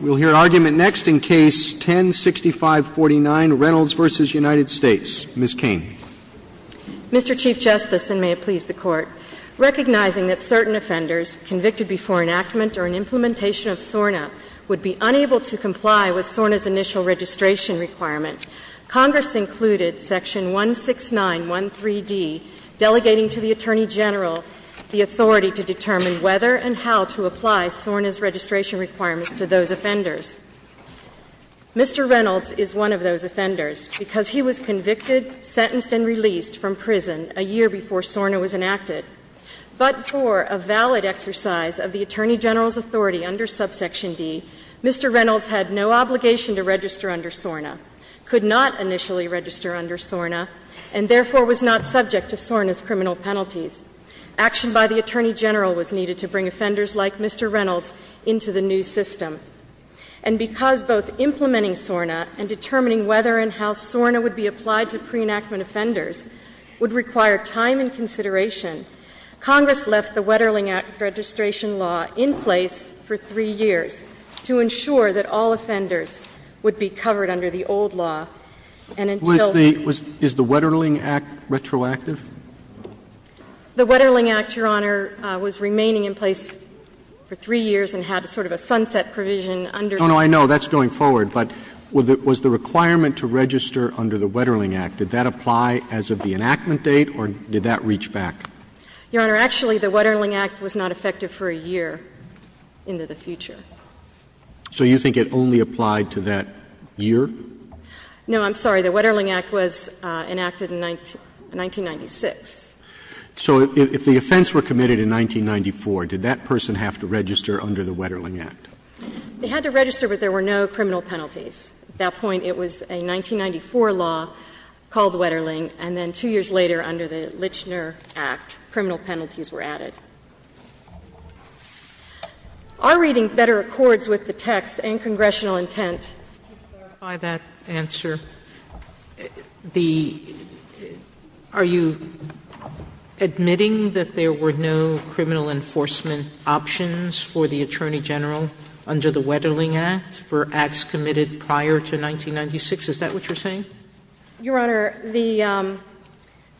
We'll hear argument next in Case 10-6549, Reynolds v. United States. Ms. Cain. Mr. Chief Justice, and may it please the Court, recognizing that certain offenders convicted before enactment or an implementation of SORNA would be unable to comply with SORNA's initial registration requirement, Congress included Section 169.13d, delegating to the Attorney General the authority to determine whether and how to apply SORNA's registration requirements to those offenders. Mr. Reynolds is one of those offenders because he was convicted, sentenced, and released from prison a year before SORNA was enacted. But for a valid exercise of the Attorney General's authority under Subsection D, Mr. Reynolds had no obligation to register under SORNA, could not initially register under SORNA, and therefore was not subject to SORNA's criminal penalties. Action by the Attorney General was needed to bring offenders like Mr. Reynolds into the new system. And because both implementing SORNA and determining whether and how SORNA would be applied to pre-enactment offenders would require time and consideration, Congress left the Wetterling Act registration law in place for 3 years to ensure that all offenders would be covered under the old law, and until the next year. So the Wetterling Act, Your Honor, was not effective? The Wetterling Act, Your Honor, was remaining in place for 3 years and had sort of a sunset provision under it. No, no, I know, that's going forward, but was the requirement to register under the Wetterling Act, did that apply as of the enactment date, or did that reach back? Your Honor, actually, the Wetterling Act was not effective for a year into the future. So you think it only applied to that year? No, I'm sorry. The Wetterling Act was enacted in 1996. So if the offense were committed in 1994, did that person have to register under the Wetterling Act? They had to register, but there were no criminal penalties. At that point, it was a 1994 law called Wetterling, and then 2 years later, under the Lichner Act, criminal penalties were added. Are reading better accords with the text and congressional intent? Sotomayor, clarify that answer. The are you admitting that there were no criminal enforcement options for the attorney general under the Wetterling Act for acts committed prior to 1996? Is that what you're saying? Your Honor, the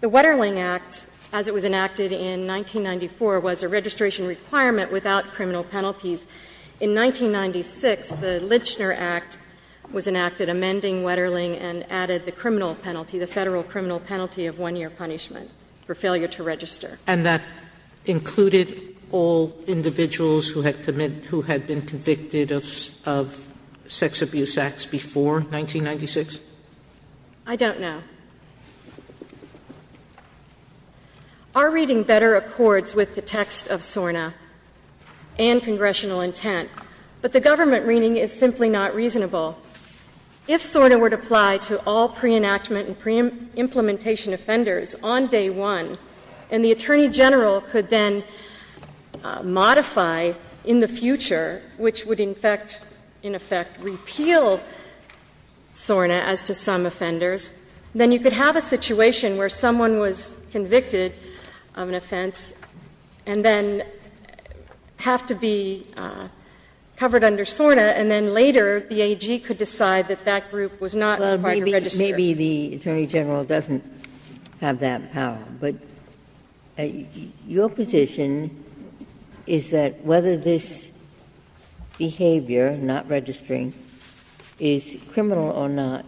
Wetterling Act, as it was enacted in 1994, was a registration requirement without criminal penalties. In 1996, the Lichner Act was enacted amending Wetterling and added the criminal penalty, the Federal criminal penalty of 1-year punishment for failure to register. And that included all individuals who had been convicted of sex abuse acts before 1996? I don't know. Are reading better accords with the text of SORNA and congressional intent? But the government reading is simply not reasonable. If SORNA were to apply to all pre-enactment and pre-implementation offenders on day one, and the attorney general could then modify in the future, which would in effect repeal SORNA as to some offenders, then the government could have a situation where someone was convicted of an offense and then have to be covered under SORNA, and then later the AG could decide that that group was not required to register. Maybe the attorney general doesn't have that power. But your position is that whether this behavior, not registering, is criminal or not,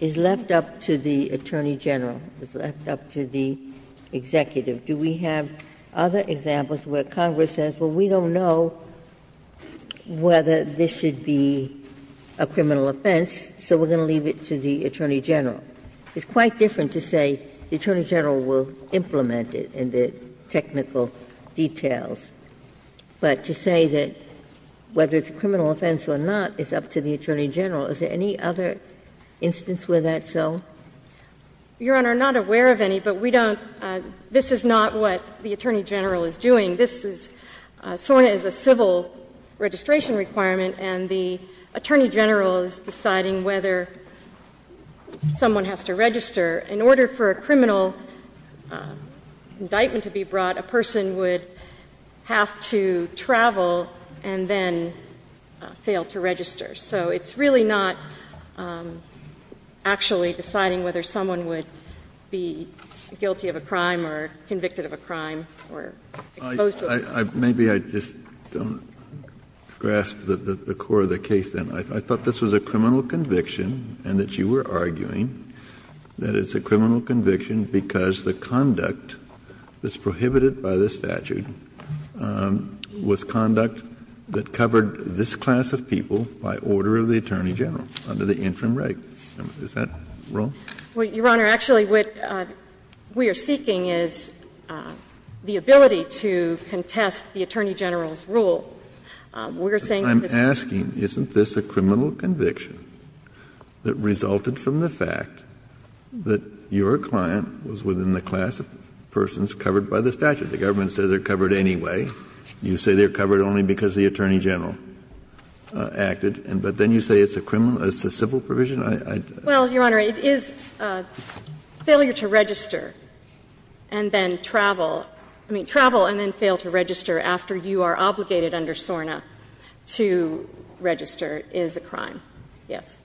is left up to the attorney general, is left up to the executive. Do we have other examples where Congress says, well, we don't know whether this should be a criminal offense, so we're going to leave it to the attorney general? It's quite different to say the attorney general will implement it in the technical details. But to say that whether it's a criminal offense or not is up to the attorney general, is there any other instance where that's so? Your Honor, I'm not aware of any, but we don't — this is not what the attorney general is doing. This is — SORNA is a civil registration requirement, and the attorney general is deciding whether someone has to register. In order for a criminal indictment to be brought, a person would have to travel and then fail to register. So it's really not actually deciding whether someone would be guilty of a crime or convicted of a crime or exposed to a crime. Kennedy, I — maybe I just don't grasp the core of the case, then. I thought this was a criminal conviction, and that you were arguing that it's a criminal conviction because the conduct that's prohibited by the statute was conduct that covered this class of people by order of the attorney general under the interim reg. Is that wrong? Well, Your Honor, actually, what we are seeking is the ability to contest the attorney general's rule. We're saying that this is a criminal conviction that resulted from the fact that your client was within the class of persons covered by the statute. The government says they're covered anyway. You say they're covered only because the attorney general acted, but then you say it's a criminal — it's a civil provision? Well, Your Honor, it is a failure to register and then travel. I mean, travel and then fail to register after you are obligated under SORNA to register is a crime, yes.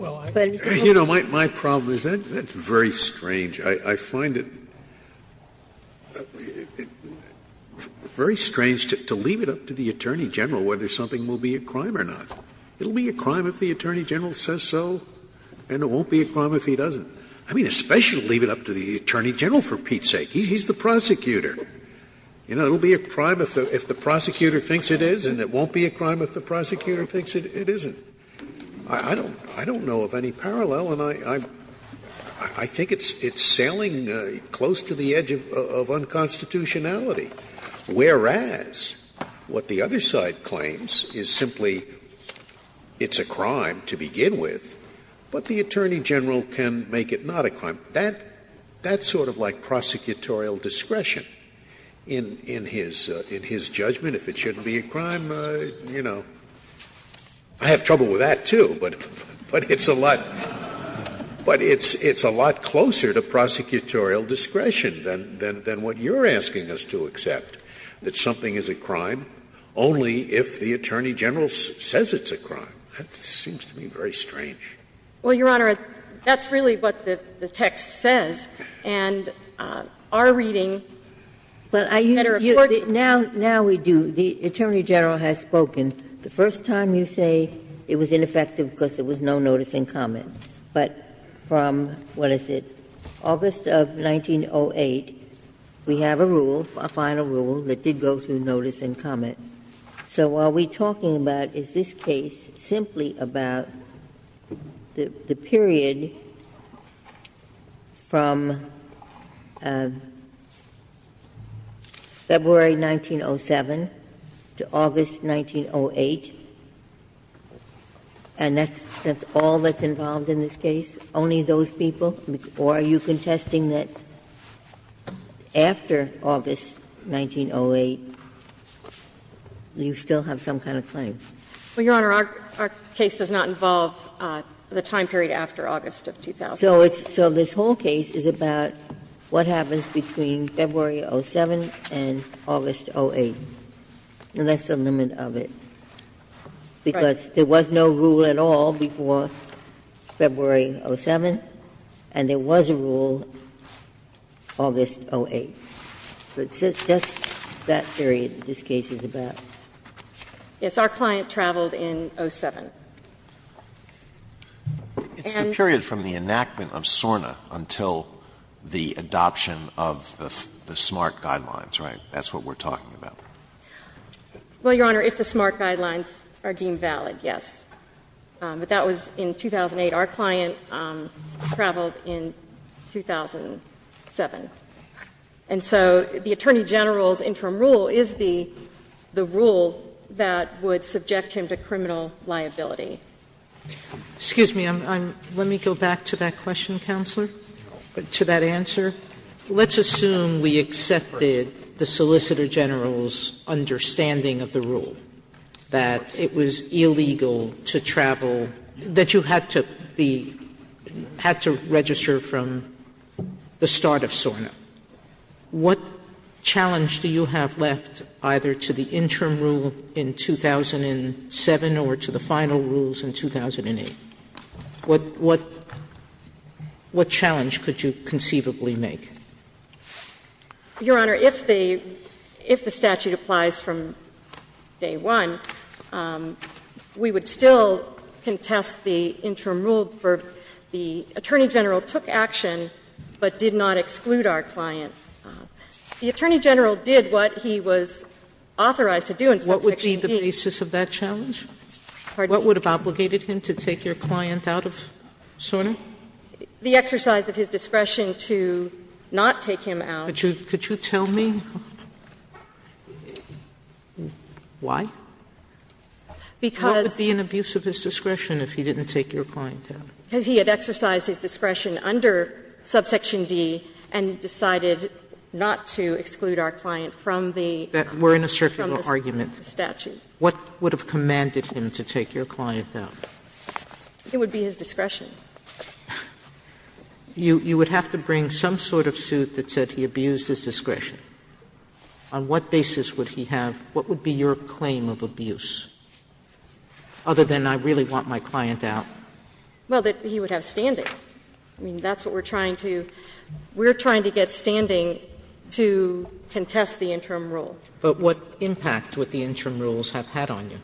Well, I — You know, my problem is that's very strange. I find it very strange to leave it up to the attorney general whether something will be a crime or not. It will be a crime if the attorney general says so, and it won't be a crime if he doesn't. I mean, especially to leave it up to the attorney general, for Pete's sake. He's the prosecutor. You know, it will be a crime if the prosecutor thinks it is, and it won't be a crime if the prosecutor thinks it isn't. I don't know of any parallel, and I think it's sailing close to the edge of unconstitutionality. Whereas, what the other side claims is simply it's a crime to begin with, but the attorney general can make it not a crime. That's sort of like prosecutorial discretion in his judgment. If it shouldn't be a crime, you know, I have trouble with that, too, but it's a lot closer to prosecutorial discretion than what you're asking us to accept, that something is a crime only if the attorney general says it's a crime. That just seems to me very strange. Well, Your Honor, that's really what the text says, and our reading is that a court can make it not a crime if the attorney general says it's a crime, but it's not a crime if the attorney general says it's not a crime. Now we do the attorney general has spoken, the first time you say it was ineffective because there was no notice and comment, but from, what is it, August of 1908, we have a rule, a final rule, that did go through notice and comment. So what we're talking about is this case simply about the period from February 1907 to August 1908, and that's all that's involved in this case, only those people? Or are you contesting that after August 1908, you still have some kind of claim? Well, Your Honor, our case does not involve the time period after August of 2000. So this whole case is about what happens between February 07 and August 08, and that's the limit of it, because there was no rule at all before February 07. And there was a rule August 08. It's just that period this case is about. Yes. Our client traveled in 07. And? It's the period from the enactment of SORNA until the adoption of the SMART guidelines, right? That's what we're talking about. Well, Your Honor, if the SMART guidelines are deemed valid, yes. But that was in 2008. Our client traveled in 2007. And so the Attorney General's interim rule is the rule that would subject him to criminal liability. Excuse me. Let me go back to that question, Counselor, to that answer. Let's assume we accepted the Solicitor General's understanding of the rule, that it was illegal to travel, that you had to be — had to register from the start of SORNA. What challenge do you have left either to the interim rule in 2007 or to the final rules in 2008? What — what challenge could you conceivably make? Your Honor, if the — if the statute applies from day one, we would still contest the interim rule for the Attorney General took action but did not exclude our client. The Attorney General did what he was authorized to do in subsection D. What would be the basis of that challenge? Pardon me? What would have obligated him to take your client out of SORNA? The exercise of his discretion to not take him out. Could you tell me why? Because— What would be an abuse of his discretion if he didn't take your client out? Because he had exercised his discretion under subsection D and decided not to exclude our client from the statute. We're in a circuit of argument. What would have commanded him to take your client out? It would be his discretion. You would have to bring some sort of suit that said he abused his discretion. On what basis would he have — what would be your claim of abuse, other than I really want my client out? Well, that he would have standing. I mean, that's what we're trying to — we're trying to get standing to contest the interim rule. But what impact would the interim rules have had on you?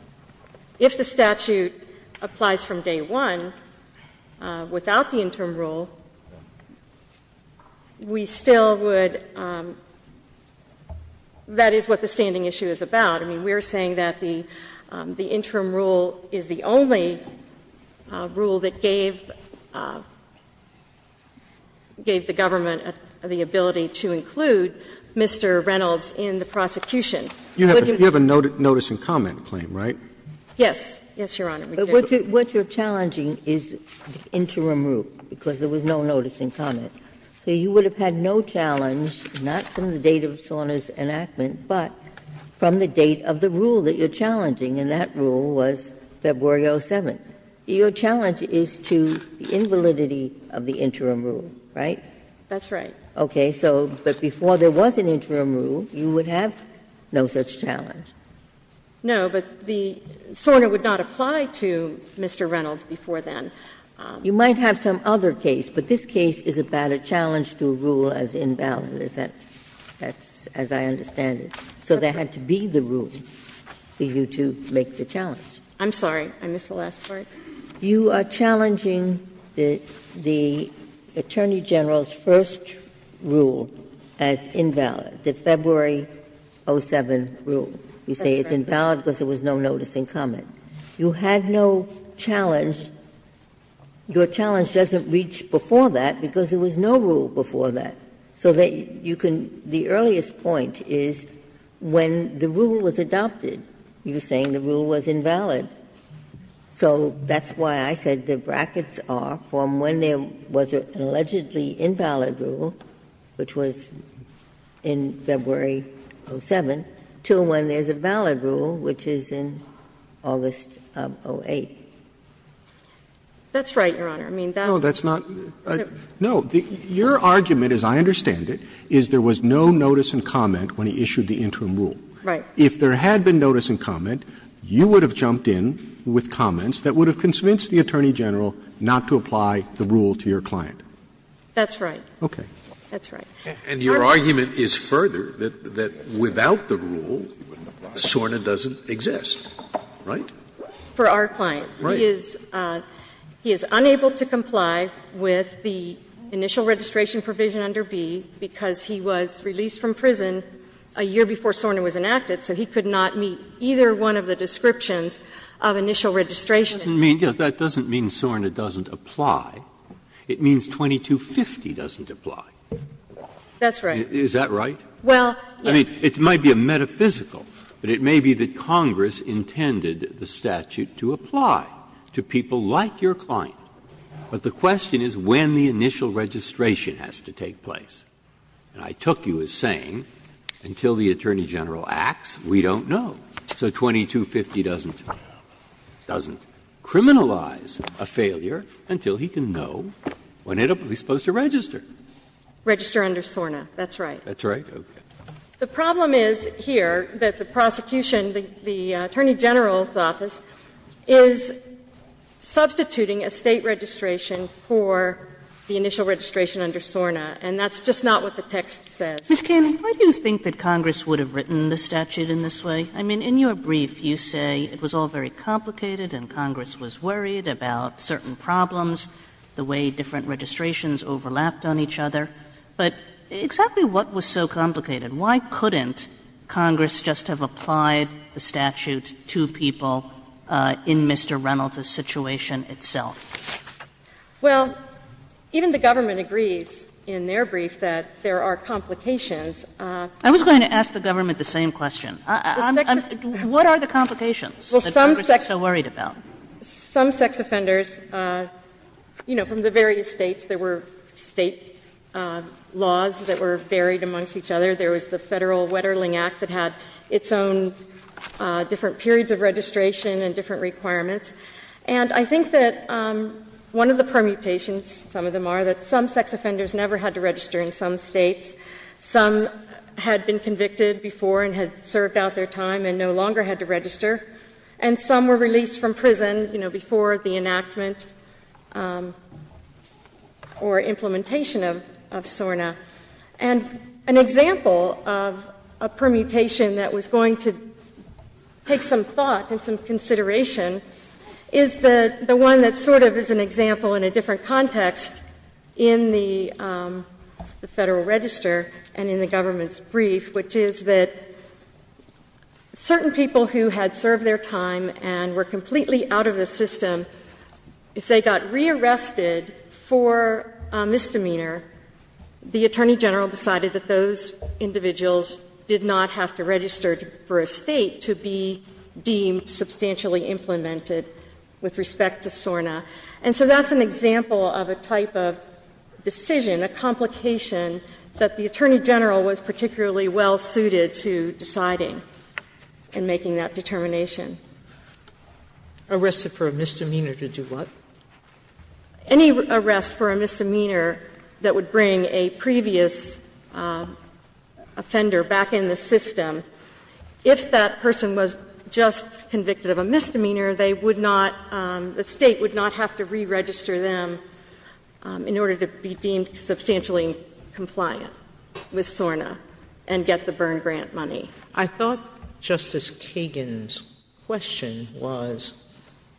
If the statute applies from day one without the interim rule, we still would — that is what the standing issue is about. I mean, we're saying that the interim rule is the only rule that gave the government the ability to include Mr. Reynolds in the prosecution. You have a notice and comment claim, right? Yes. Yes, Your Honor. But what you're challenging is the interim rule, because there was no notice and comment. So you would have had no challenge, not from the date of Sona's enactment, but from the date of the rule that you're challenging, and that rule was February 07. Your challenge is to the invalidity of the interim rule, right? That's right. Okay. So — but before there was an interim rule, you would have no such challenge. No, but the — Sona would not apply to Mr. Reynolds before then. You might have some other case, but this case is about a challenge to a rule as invalid, is that — as I understand it. So there had to be the rule for you to make the challenge. I'm sorry. I missed the last part. You are challenging the Attorney General's first rule as invalid, the February 07 rule. You say it's invalid because there was no notice and comment. You had no challenge. Your challenge doesn't reach before that, because there was no rule before that. So that you can — the earliest point is when the rule was adopted, you're saying the rule was invalid. So that's why I said the brackets are from when there was an allegedly invalid rule, which was in February 07, to when there's a valid rule, which is in August 08. That's right, Your Honor. I mean, that's not — No, that's not — no. Your argument, as I understand it, is there was no notice and comment when he issued the interim rule. Right. If there had been notice and comment, you would have jumped in with comments that would have convinced the Attorney General not to apply the rule to your client. That's right. Okay. That's right. And your argument is further, that without the rule, SORNA doesn't exist, right? For our client. Right. He is unable to comply with the initial registration provision under B, because he was released from prison a year before SORNA was enacted, so he could not meet either one of the descriptions of initial registration. That doesn't mean SORNA doesn't apply. It means 2250 doesn't apply. That's right. Is that right? Well, yes. I mean, it might be a metaphysical, but it may be that Congress intended the statute to apply to people like your client. But the question is when the initial registration has to take place. And I took you as saying until the Attorney General acts, we don't know. So 2250 doesn't criminalize a failure until he can know when it will be supposed to register. Register under SORNA. That's right. That's right. Okay. The problem is here that the prosecution, the Attorney General's office, is substituting a State registration for the initial registration under SORNA. And that's just not what the text says. Ms. Cannon, why do you think that Congress would have written the statute in this way? I mean, in your brief, you say it was all very complicated and Congress was worried about certain problems, the way different registrations overlapped on each other. But exactly what was so complicated? Why couldn't Congress just have applied the statute to people in Mr. Reynolds's situation itself? Well, even the government agrees in their brief that there are complications. I was going to ask the government the same question. What are the complications that Congress is so worried about? Some sex offenders, you know, from the various States, there were State laws that were varied amongst each other. There was the Federal Wetterling Act that had its own different periods of registration and different requirements. And I think that one of the permutations, some of them are, that some sex offenders never had to register in some States. Some had been convicted before and had served out their time and no longer had to register. And some were released from prison, you know, before the enactment or implementation of SORNA. And an example of a permutation that was going to take some thought and some consideration is the one that sort of is an example in a different context in the Federal Register and in the government's brief, which is that certain people who had served their time and were completely out of the system, if they got rearrested for a misdemeanor, the Attorney General decided that those individuals did not have to register for a State to be deemed substantially implemented with respect to SORNA. And so that's an example of a type of decision, a complication, that the Attorney General was particularly well-suited to deciding in making that determination. Sotomayor Arrested for a misdemeanor to do what? Any arrest for a misdemeanor that would bring a previous offender back in the system. If that person was just convicted of a misdemeanor, they would not, the State would not have to reregister them in order to be deemed substantially compliant with SORNA and get the Byrne Grant money. Sotomayor I thought Justice Kagan's question was,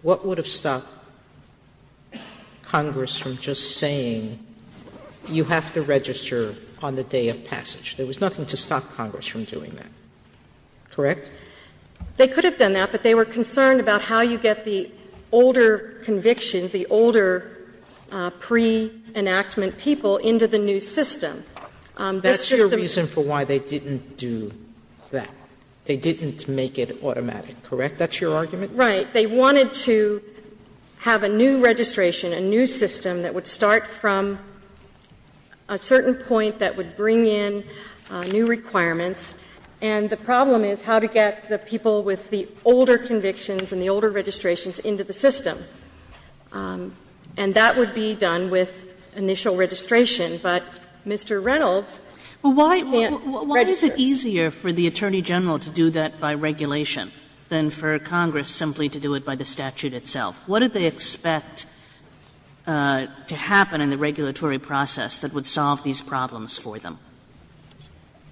what would have stopped Congress from just saying, you have to register on the day of passage? There was nothing to stop Congress from doing that. Correct? They could have done that, but they were concerned about how you get the older convictions, the older pre-enactment people into the new system. This system was just a way to make it automatic, correct? That's your argument? Right. They wanted to have a new registration, a new system that would start from a certain point that would bring in new requirements. And the problem is how to get the people with the older convictions and the older registrations into the system. And that would be done with initial registration. But Mr. Reynolds can't register. Kagan But why is it easier for the Attorney General to do that by regulation than for Congress simply to do it by the statute itself? What did they expect to happen in the regulatory process that would solve these problems for them?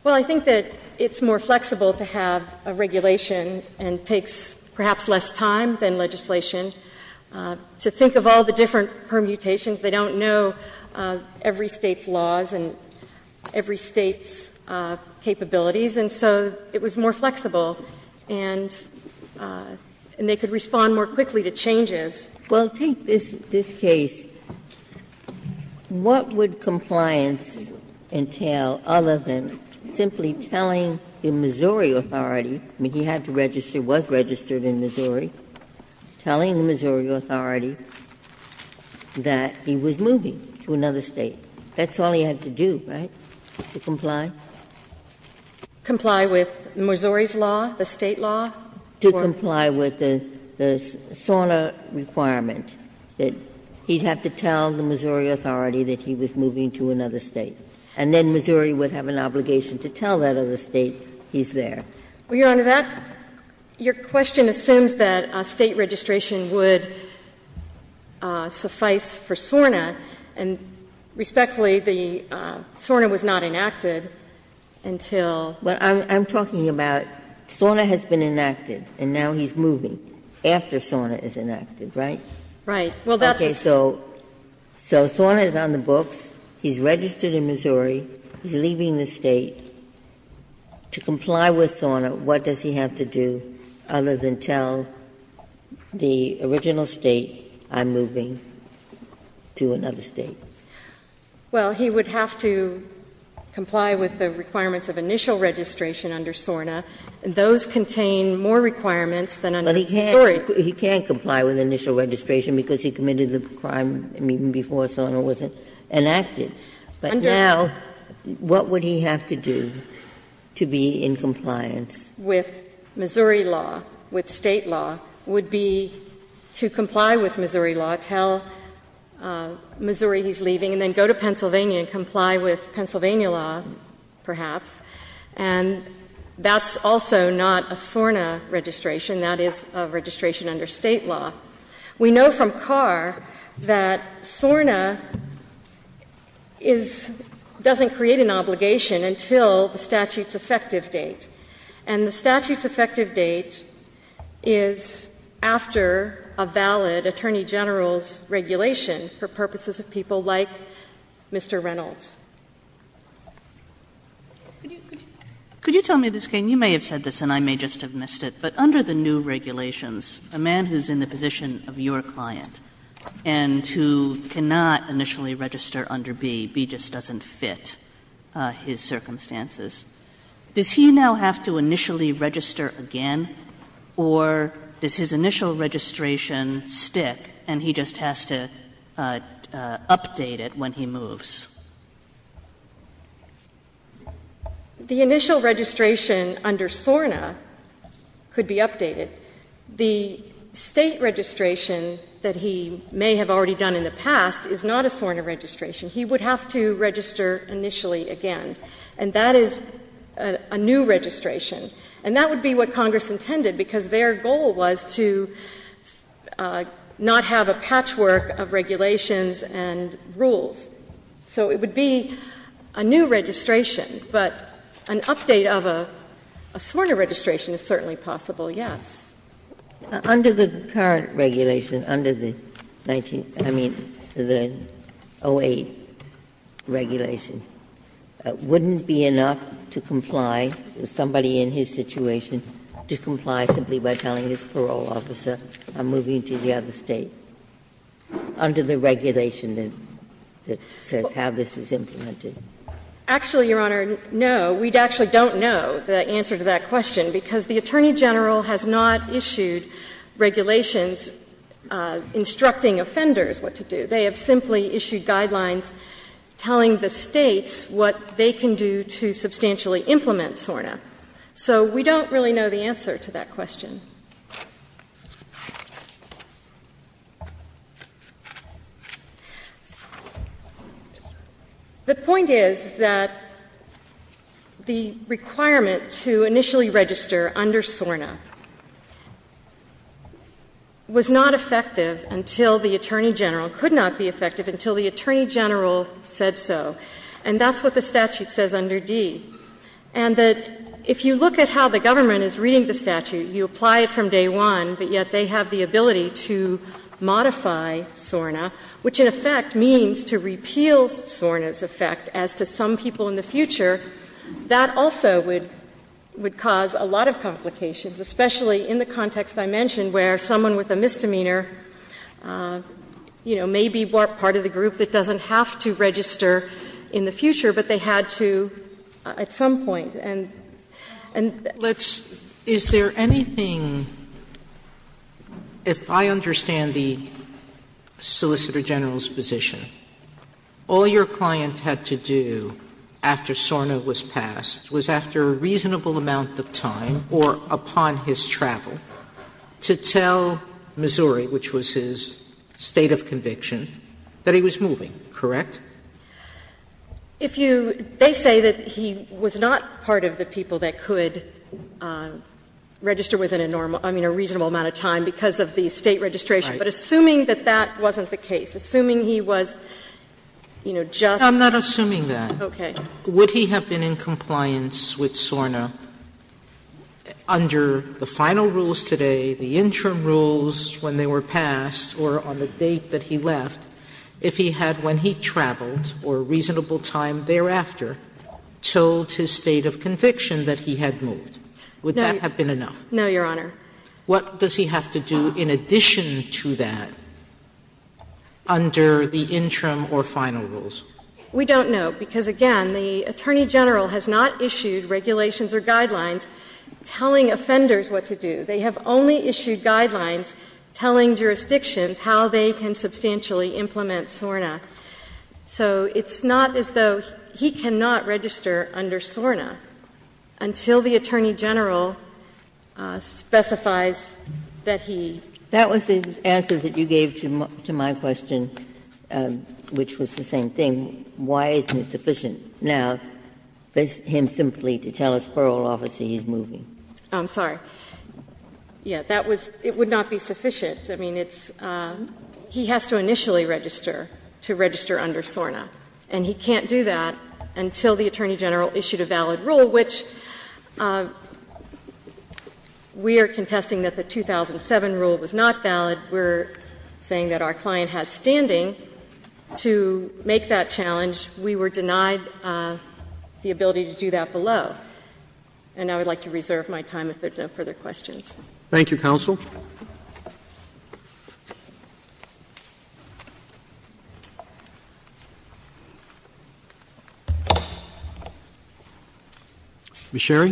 Well, I think that it's more flexible to have a regulation and takes perhaps less time than legislation. To think of all the different permutations, they don't know every State's laws and every State's capabilities. And so it was more flexible. And they could respond more quickly to changes. Ginsburg Well, take this case. What would compliance entail other than simply telling the Missouri authority he had to register, was registered in Missouri, telling the Missouri authority that he was moving to another State? That's all he had to do, right, to comply? Kagan Comply with Missouri's law, the State law? Ginsburg To comply with the SORNA requirement, that he'd have to tell the Missouri authority that he was moving to another State. And then Missouri would have an obligation to tell that other State he's there. Kagan Well, Your Honor, that — your question assumes that State registration would suffice for SORNA. And respectfully, the SORNA was not enacted until — I'm talking about SORNA has been enacted, and now he's moving after SORNA is enacted, right? Kagan Well, that's a — Ginsburg Okay. So SORNA is on the books. He's registered in Missouri. He's leaving the State. To comply with SORNA, what does he have to do other than tell the original State I'm moving to another State? Kagan Well, he would have to comply with the requirements of initial registration under SORNA. And those contain more requirements than under Missouri. Ginsburg But he can't comply with initial registration because he committed the crime even before SORNA was enacted. But now, what would he have to do to be in compliance? Kagan With Missouri law, with State law, would be to comply with Missouri law, tell Missouri he's leaving, and then go to Pennsylvania and comply with Pennsylvania law, perhaps. And that's also not a SORNA registration. That is a registration under State law. We know from Carr that SORNA is — doesn't create an obligation until the statute's effective date. And the statute's effective date is after a valid attorney general's regulation for purposes of people like Mr. Reynolds. Kagan Could you tell me, Ms. Cain, you may have said this and I may just have missed it, but under the new regulations, a man who's in the position of your client and who cannot initially register under B, B just doesn't fit his circumstances, does he now have to initially register again, or does his initial registration stick and he just has to update it when he moves? Ms. Cain The initial registration under SORNA could be updated. The State registration that he may have already done in the past is not a SORNA registration. He would have to register initially again. And that is a new registration. And that would be what Congress intended, because their goal was to not have a patchwork of regulations and rules. So it would be a new registration. But an update of a SORNA registration is certainly possible, yes. Ginsburg Under the current regulation, under the 19 — I mean, the 08 regulation, wouldn't be enough to comply, somebody in his situation, to comply simply by telling his parole officer I'm moving to the other State under the regulation that says how this is implemented? Ms. Cain Actually, Your Honor, no. We actually don't know the answer to that question, because the Attorney General has not issued regulations instructing offenders what to do. They have simply issued guidelines telling the States what they can do to substantially implement SORNA. So we don't really know the answer to that question. The point is that the requirement to initially register under SORNA was not effective until the Attorney General could not do it. It could not be effective until the Attorney General said so. And that's what the statute says under D. And that if you look at how the government is reading the statute, you apply it from day one, but yet they have the ability to modify SORNA, which in effect means to repeal SORNA's effect as to some people in the future, that also would cause a lot of complications, especially in the context I mentioned where someone with a misdemeanor, you know, may be part of the group that doesn't have to register in the future, but they had to at some point. And that's what the statute says. Sotomayor Let's see. Is there anything, if I understand the Solicitor General's position, all your client had to do after SORNA was passed was, after a reasonable amount of time or upon his conviction, that he was moving, correct? They say that he was not part of the people that could register within a normal or reasonable amount of time because of the State registration. But assuming that that wasn't the case, assuming he was, you know, just I'm not assuming that. Okay. Would he have been in compliance with SORNA under the final rules today, the interim rules when they were passed, or on the date that he left, if he had, when he traveled or a reasonable time thereafter, told his state of conviction that he had moved? Would that have been enough? No, Your Honor. What does he have to do in addition to that under the interim or final rules? We don't know, because again, the Attorney General has not issued regulations or guidelines telling offenders what to do. They have only issued guidelines telling jurisdictions how they can substantially implement SORNA. So it's not as though he cannot register under SORNA until the Attorney General specifies that he. That was the answer that you gave to my question, which was the same thing. Why isn't it sufficient now for him simply to tell his parole officer he's moving? I'm sorry. Yeah, that was — it would not be sufficient. I mean, it's — he has to initially register to register under SORNA. And he can't do that until the Attorney General issued a valid rule, which we are contesting that the 2007 rule was not valid. We're saying that our client has standing to make that challenge. We were denied the ability to do that below. And I would like to reserve my time if there are no further questions. Thank you, counsel. Ms. Sherry.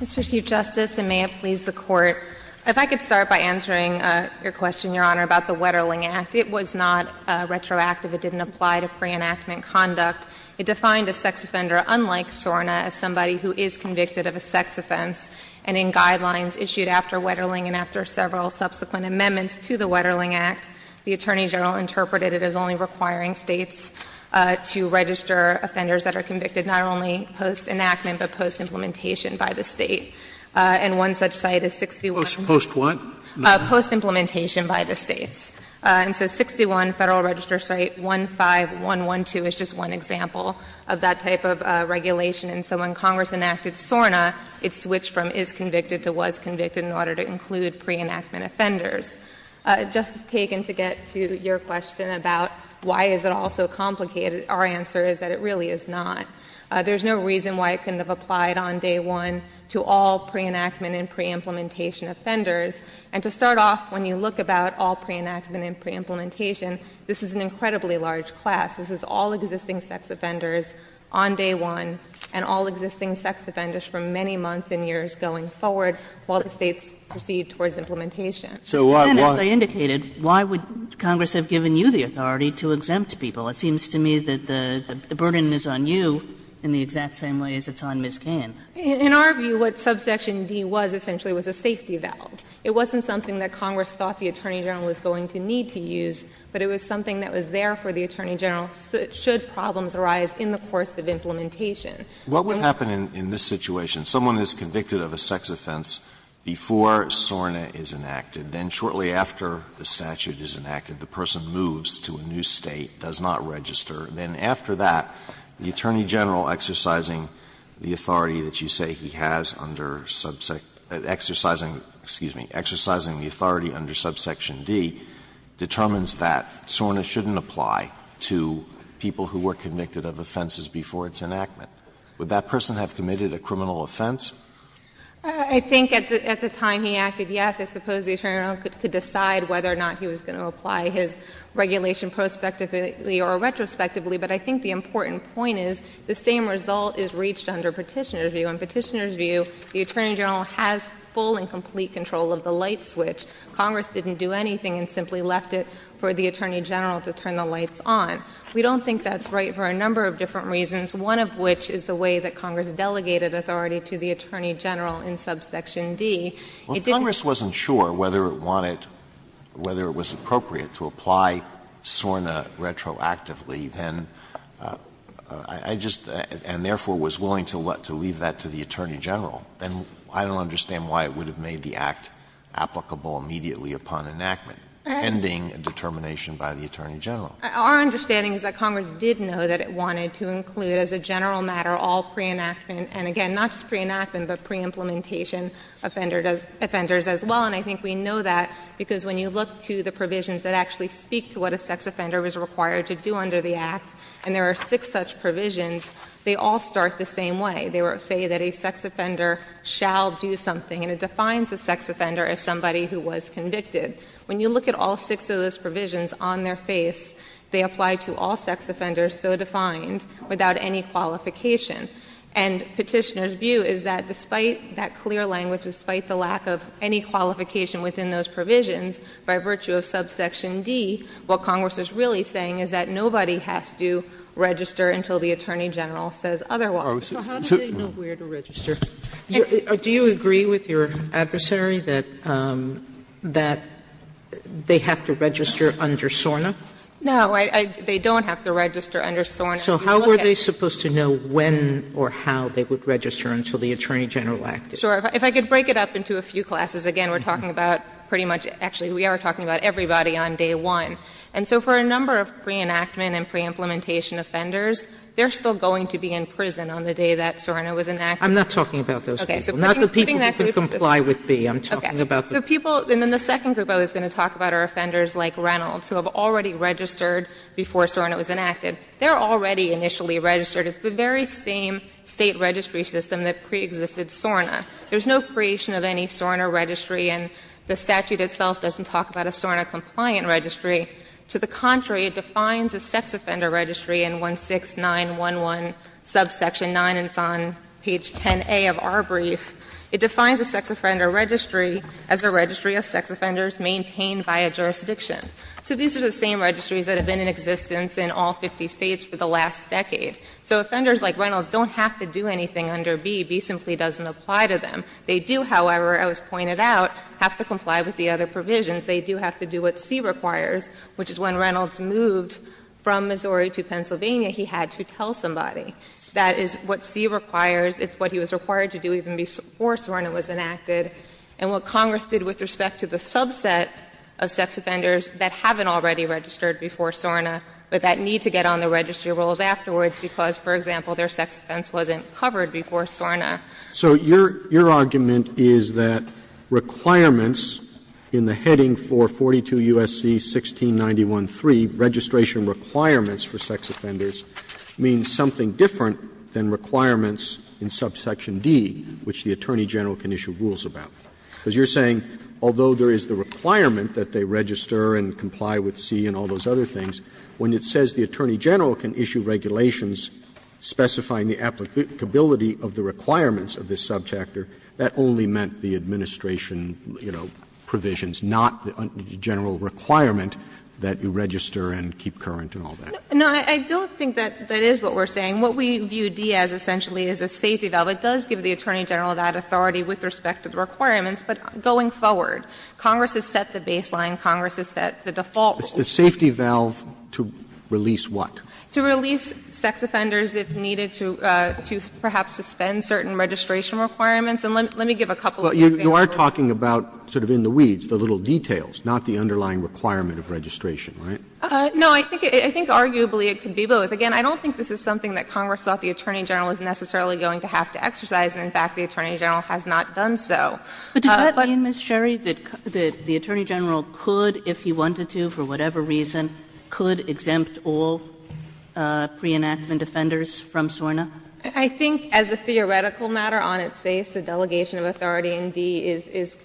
Mr. Chief Justice, and may it please the Court, if I could start by answering your question, Your Honor, about the Wetterling Act. It was not retroactive. It didn't apply to pre-enactment conduct. It defined a sex offender, unlike SORNA, as somebody who is convicted of a sex offense. And in guidelines issued after Wetterling and after several subsequent amendments to the Wetterling Act, the Attorney General interpreted it as only requiring States to register offenders that are convicted not only post-enactment but post-implementation by the State. And one such site is 61— Post what? Post-implementation by the States. And so 61 Federal Register Site 15112 is just one example of that type of regulation. And so when Congress enacted SORNA, it switched from is convicted to was convicted in order to include pre-enactment offenders. Justice Kagan, to get to your question about why is it all so complicated, our answer is that it really is not. There's no reason why it couldn't have applied on day one to all pre-enactment and pre-implementation offenders. And to start off, when you look about all pre-enactment and pre-implementation, this is an incredibly large class. This is all existing sex offenders on day one and all existing sex offenders for many months and years going forward while the States proceed towards implementation. And as I indicated, why would Congress have given you the authority to exempt people? It seems to me that the burden is on you in the exact same way as it's on Ms. Kagan. In our view, what subsection D was essentially was a safety valve. It wasn't something that Congress thought the Attorney General was going to need to use, but it was something that was there for the Attorney General should problems arise in the course of implementation. for the State to use. Alitoso What would happen in this situation, someone is convicted of a sex offense before SORNA is enacted, then shortly after the statute is enacted, the person moves to a new State, does not register, then after that, the Attorney General exercising the authority that you say he has under subsection — exercising, excuse me, exercising the authority under subsection D, determines that SORNA shouldn't apply to people who were convicted of offenses before its enactment. Would that person have committed a criminal offense? I think at the time he acted, yes, I suppose the Attorney General could decide whether or not he was going to apply his regulation prospectively or retrospectively, but I think the important point is the same result is reached under Petitioner's view. In Petitioner's view, the Attorney General has full and complete control of the light switch. Congress didn't do anything and simply left it for the Attorney General to turn the lights on. We don't think that's right for a number of different reasons, one of which is the way that Congress delegated authority to the Attorney General in subsection D. It didn't — Alitoso Well, Congress wasn't sure whether it wanted — whether it was appropriate to apply SORNA retroactively, then I just — and therefore was willing to leave that to the Attorney General. And I don't understand why it would have made the act applicable immediately upon enactment, pending a determination by the Attorney General. Sherry Our understanding is that Congress did know that it wanted to include as a general matter all pre-enactment and, again, not just pre-enactment, but pre-implementation offenders as well, and I think we know that because when you look to the provisions that actually speak to what a sex offender is required to do under the act, and there are six such provisions, they all start the same way. They say that a sex offender shall do something, and it defines a sex offender as somebody who was convicted. When you look at all six of those provisions on their face, they apply to all sex offenders so defined without any qualification. And Petitioner's view is that despite that clear language, despite the lack of any qualification within those provisions, by virtue of subsection D, what Congress is really saying is that nobody has to register until the Attorney General says otherwise. Sotomayor So how do they know where to register? Do you agree with your adversary that they have to register under SORNA? Sherry No. They don't have to register under SORNA. Sotomayor So how were they supposed to know when or how they would register until the Attorney General acted? Sherry Sure. If I could break it up into a few classes, again, we're talking about pretty much actually we are talking about everybody on day one. And so for a number of pre-enactment and pre-implementation offenders, they're still going to be in prison on the day that SORNA was enacted. Sotomayor I'm not talking about those people. Sherry Okay. Sotomayor Not the people who can comply with B. I'm talking about the people. Sherry Okay. So people and then the second group I was going to talk about are offenders like Reynolds who have already registered before SORNA was enacted. They're already initially registered. It's the very same State registry system that preexisted SORNA. There's no creation of any SORNA registry and the statute itself doesn't talk about a SORNA-compliant registry. To the contrary, it defines a sex offender registry in 16911, subsection 9, and it's on page 10A of our brief. It defines a sex offender registry as a registry of sex offenders maintained by a jurisdiction. So these are the same registries that have been in existence in all 50 States for the last decade. So offenders like Reynolds don't have to do anything under B. B simply doesn't apply to them. They do, however, as was pointed out, have to comply with the other provisions. They do have to do what C requires, which is when Reynolds moved from Missouri to Pennsylvania, he had to tell somebody. That is what C requires. It's what he was required to do even before SORNA was enacted. And what Congress did with respect to the subset of sex offenders that haven't already registered before SORNA but that need to get on the registry rolls afterwards because, for example, their sex offense wasn't covered before SORNA. Roberts, So your argument is that requirements in the heading for 42 U.S.C. 1691.3, registration requirements for sex offenders, means something different than requirements in subsection D, which the Attorney General can issue rules about. Because you're saying although there is the requirement that they register and comply with C and all those other things, when it says the Attorney General can issue regulations specifying the applicability of the requirements of this subchapter, that only meant the administration, you know, provisions, not the general requirement that you register and keep current and all that. No, I don't think that that is what we're saying. What we view D as essentially is a safety valve. It does give the Attorney General that authority with respect to the requirements. But going forward, Congress has set the baseline. Congress has set the default rules. Roberts, The safety valve to release what? To release sex offenders if needed to perhaps suspend certain registration requirements. And let me give a couple of examples. Roberts, You are talking about sort of in the weeds, the little details, not the underlying requirement of registration, right? No, I think arguably it could be both. Again, I don't think this is something that Congress thought the Attorney General was necessarily going to have to exercise. And in fact, the Attorney General has not done so. But does that mean, Ms. Sherry, that the Attorney General could, if he wanted to, for whatever reason, could exempt all pre-enactment offenders from SORNA? I think as a theoretical matter, on its face, the delegation of authority in D is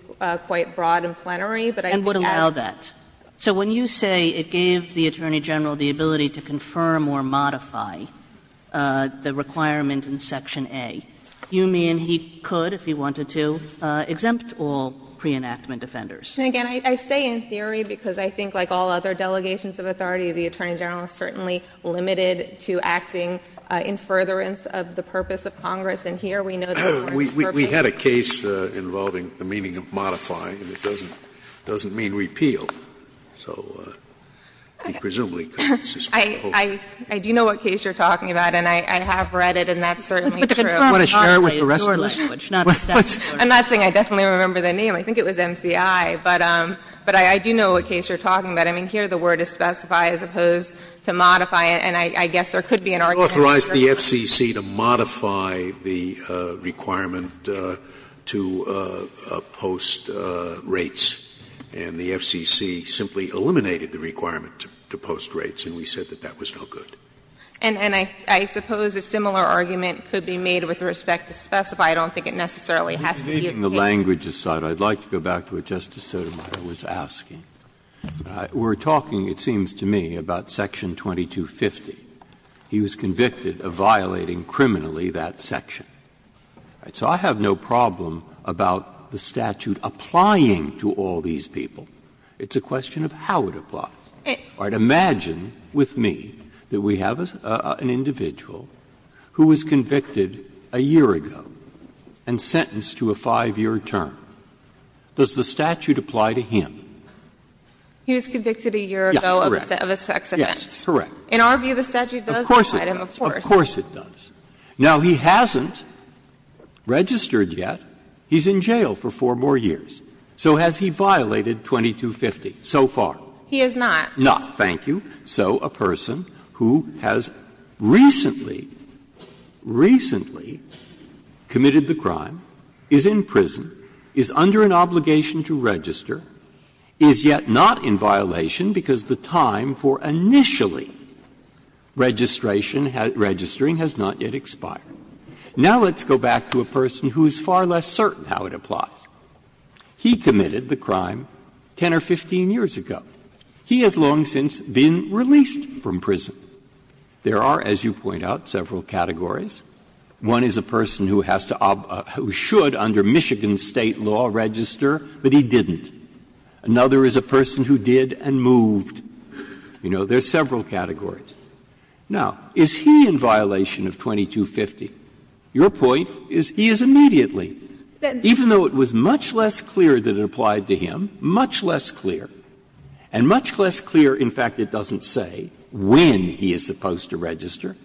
quite broad and plenary, but I think as And would allow that. So when you say it gave the Attorney General the ability to confirm or modify the requirement in Section A, you mean he could, if he wanted to, if he wanted to, exempt all pre-enactment offenders. And again, I say in theory because I think like all other delegations of authority, the Attorney General is certainly limited to acting in furtherance of the purpose of Congress, and here we know that it works perfectly. We had a case involving the meaning of modify, and it doesn't mean repeal. So he presumably could suspend the whole thing. I do know what case you are talking about, and I have read it, and that's certainly But the confirming modify is your language, not the statute's language. I'm not saying I definitely remember the name. I think it was MCI, but I do know what case you are talking about. I mean, here the word is specify as opposed to modify, and I guess there could be an argument for that. Sotomayor authorized the FCC to modify the requirement to post rates, and the FCC simply eliminated the requirement to post rates, and we said that that was no good. And I suppose a similar argument could be made with respect to specify. I don't think it necessarily has to be a case. Breyer, taking the language aside, I would like to go back to what Justice Sotomayor was asking. We are talking, it seems to me, about section 2250. He was convicted of violating criminally that section. So I have no problem about the statute applying to all these people. It's a question of how it applies. Imagine with me that we have an individual who was convicted a year ago. And sentenced to a 5-year term. Does the statute apply to him? He was convicted a year ago of a sex offense. Correct. In our view, the statute does apply to him, of course. Of course it does. Now, he hasn't registered yet. He's in jail for 4 more years. So has he violated 2250 so far? He has not. Not. Thank you. So a person who has recently, recently committed the crime, is in prison, is under an obligation to register, is yet not in violation because the time for initially registration, registering has not yet expired. Now let's go back to a person who is far less certain how it applies. He committed the crime 10 or 15 years ago. He has long since been released from prison. There are, as you point out, several categories. One is a person who has to ob or should under Michigan State law register, but he didn't. Another is a person who did and moved. You know, there are several categories. Now, is he in violation of 2250? Your point is he is immediately. Even though it was much less clear that it applied to him, much less clear. And much less clear, in fact, it doesn't say when he is supposed to register,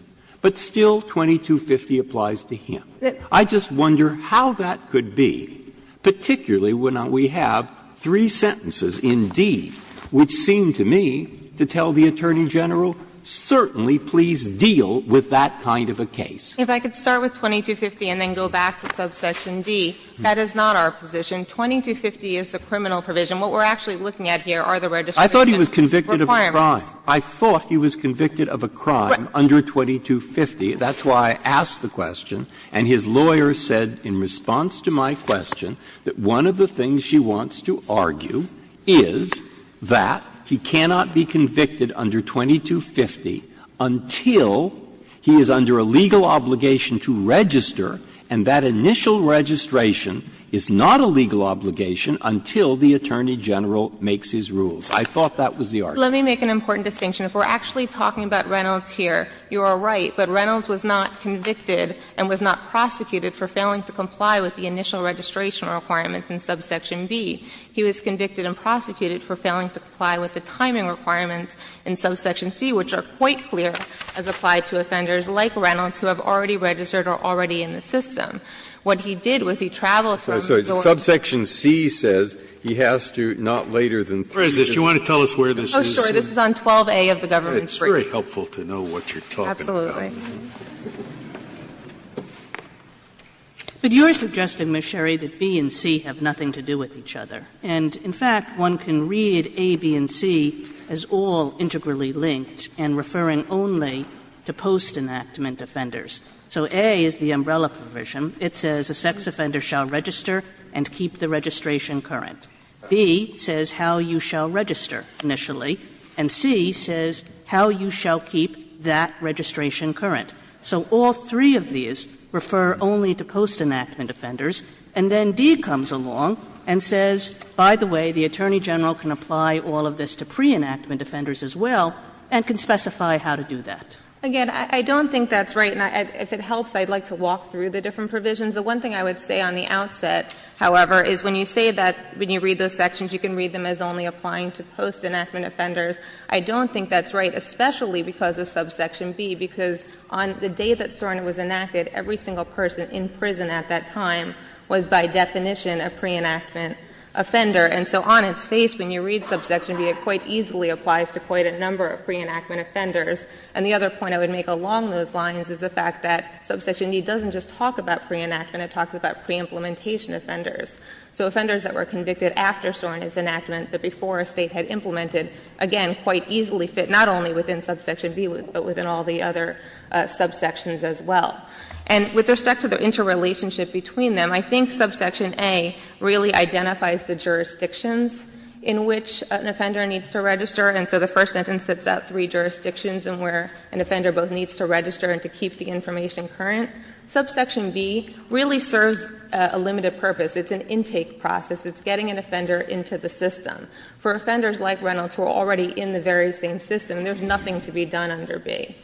but still 2250 applies to him. I just wonder how that could be, particularly when we have three sentences in D which seem to me to tell the Attorney General, certainly please deal with that kind of a case. If I could start with 2250 and then go back to subsection D, that is not our position. 2250 is the criminal provision. What we are actually looking at here are the registration requirements. Breyer. I thought he was convicted of a crime. I thought he was convicted of a crime under 2250. That's why I asked the question. And his lawyer said in response to my question that one of the things she wants to argue is that he cannot be convicted under 2250 until he is under a legal obligation to register, and that initial registration is not a legal obligation until the Attorney General makes his rules. I thought that was the argument. Let me make an important distinction. If we are actually talking about Reynolds here, you are right, but Reynolds was not convicted and was not prosecuted for failing to comply with the initial registration requirements in subsection B. He was convicted and prosecuted for failing to comply with the timing requirements in subsection C, which are quite clear as applied to offenders like Reynolds who have already registered or are already in the system. What he did was he traveled from the door to the door. Breyer, subsection C says he has to not later than three days. Do you want to tell us where this is? Oh, sure. This is on 12A of the government's brief. It's very helpful to know what you're talking about. Absolutely. But you are suggesting, Ms. Sherry, that B and C have nothing to do with each other. And in fact, one can read A, B, and C as all integrally linked and referring only to post-enactment offenders. So A is the umbrella provision. It says a sex offender shall register and keep the registration current. B says how you shall register initially. And C says how you shall keep that registration current. So all three of these refer only to post-enactment offenders. And then D comes along and says, by the way, the Attorney General can apply all of this to pre-enactment offenders as well and can specify how to do that. Again, I don't think that's right. And if it helps, I'd like to walk through the different provisions. The one thing I would say on the outset, however, is when you say that when you read those sections, you can read them as only applying to post-enactment offenders. I don't think that's right, especially because of subsection B, because on the day that SORNA was enacted, every single person in prison at that time was by definition a pre-enactment offender. And so on its face, when you read subsection B, it quite easily applies to quite a number of pre-enactment offenders. And the other point I would make along those lines is the fact that subsection E doesn't just talk about pre-enactment, it talks about pre-implementation offenders. So offenders that were convicted after SORNA's enactment, but before a state had implemented, again, quite easily fit not only within subsection B, but within all the other subsections as well. And with respect to the interrelationship between them, I think subsection A really identifies the jurisdictions in which an offender needs to register. And so the first sentence sets out three jurisdictions in where an offender both needs to register and to keep the information current. Subsection B really serves a limited purpose. It's an intake process. It's getting an offender into the system. For offenders like Reynolds who are already in the very same system, there's nothing to be done under B.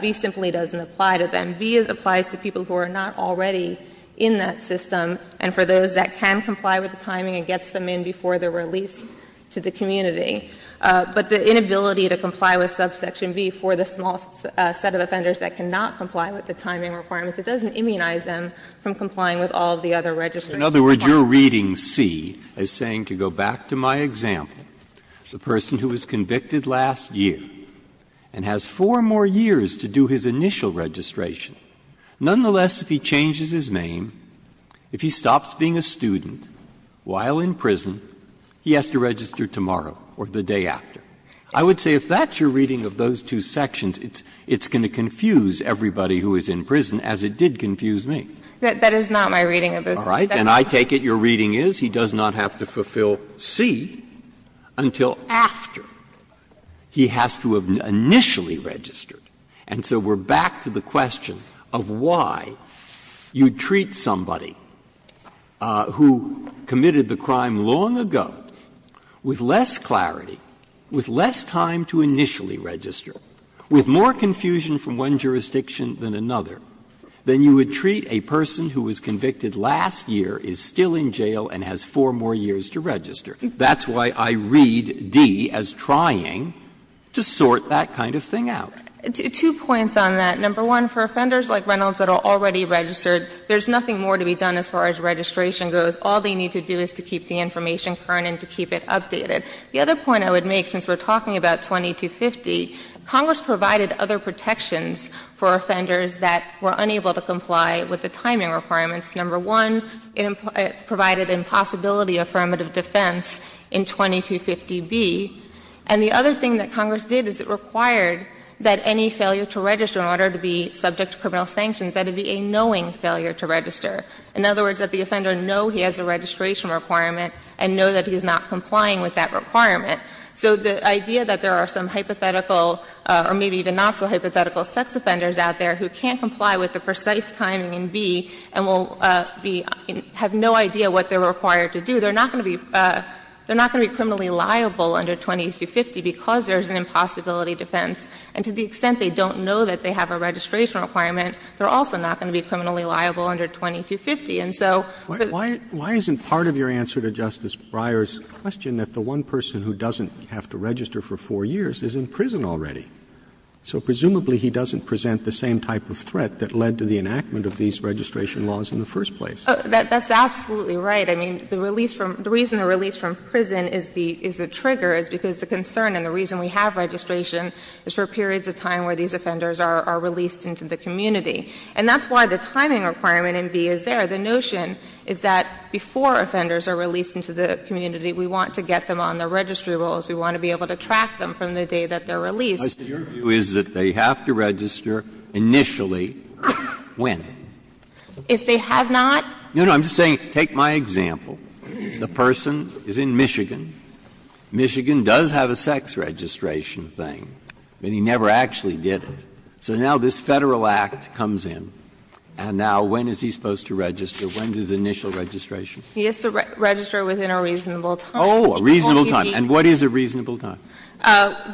B simply doesn't apply to them. B applies to people who are not already in that system, and for those that can comply with the timing and gets them in before they're released to the community. But the inability to comply with subsection B for the small set of offenders that cannot comply with the timing requirements, it doesn't immunize them from complying with all the other registration requirements. Breyer, in other words, you're reading C as saying, to go back to my example, the person who was convicted last year and has four more years to do his initial registration, nonetheless, if he changes his name, if he stops being a student while in prison, he has to register tomorrow or the day after. I would say if that's your reading of those two sections, it's going to confuse everybody who is in prison, as it did confuse me. That is not my reading of those two sections. All right. Then I take it your reading is he does not have to fulfill C until after he has to have initially registered. And so we're back to the question of why you treat somebody who committed the crime long ago with less clarity, with less time to initially register, with more confusion from one jurisdiction than another, than you would treat a person who was convicted last year, is still in jail, and has four more years to register. That's why I read D as trying to sort that kind of thing out. Two points on that. Number one, for offenders like Reynolds that are already registered, there's nothing more to be done as far as registration goes. All they need to do is to keep the information current and to keep it updated. The other point I would make, since we're talking about 2250, Congress provided other protections for offenders that were unable to comply with the timing requirements. Number one, it provided impossibility affirmative defense in 2250B. And the other thing that Congress did is it required that any failure to register in order to be subject to criminal sanctions, that it be a knowing failure to register. In other words, that the offender know he has a registration requirement and know that he is not complying with that requirement. So the idea that there are some hypothetical or maybe even not so hypothetical sex offenders out there who can't comply with the precise timing in B and will be — have no idea what they're required to do, they're not going to be — they're not going to be criminally liable under 2250 because there's an impossibility defense. And to the extent they don't know that they have a registration requirement, they're also not going to be criminally liable under 2250. And so the — Roberts. Why isn't part of your answer to Justice Breyer's question that the one person who doesn't have to register for four years is in prison already? So presumably he doesn't present the same type of threat that led to the enactment of these registration laws in the first place. That's absolutely right. I mean, the release from — the reason the release from prison is the — is a trigger is because the concern and the reason we have registration is for periods of time where these offenders are released into the community. And that's why the timing requirement in B is there. The notion is that before offenders are released into the community, we want to get them on the registry rolls. We want to be able to track them from the day that they're released. Breyer, your view is that they have to register initially when? If they have not? No, no. I'm just saying, take my example. The person is in Michigan. Michigan does have a sex registration thing, but he never actually did it. So now this Federal Act comes in, and now when is he supposed to register? When is his initial registration? He has to register within a reasonable time. Oh, a reasonable time. And what is a reasonable time?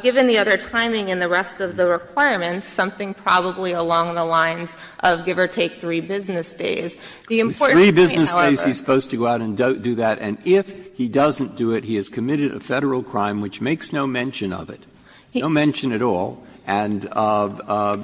Given the other timing and the rest of the requirements, something probably along the lines of give or take three business days. The important point, however — Three business days, he's supposed to go out and do that. And if he doesn't do it, he has committed a Federal crime which makes no mention of it, no mention at all. And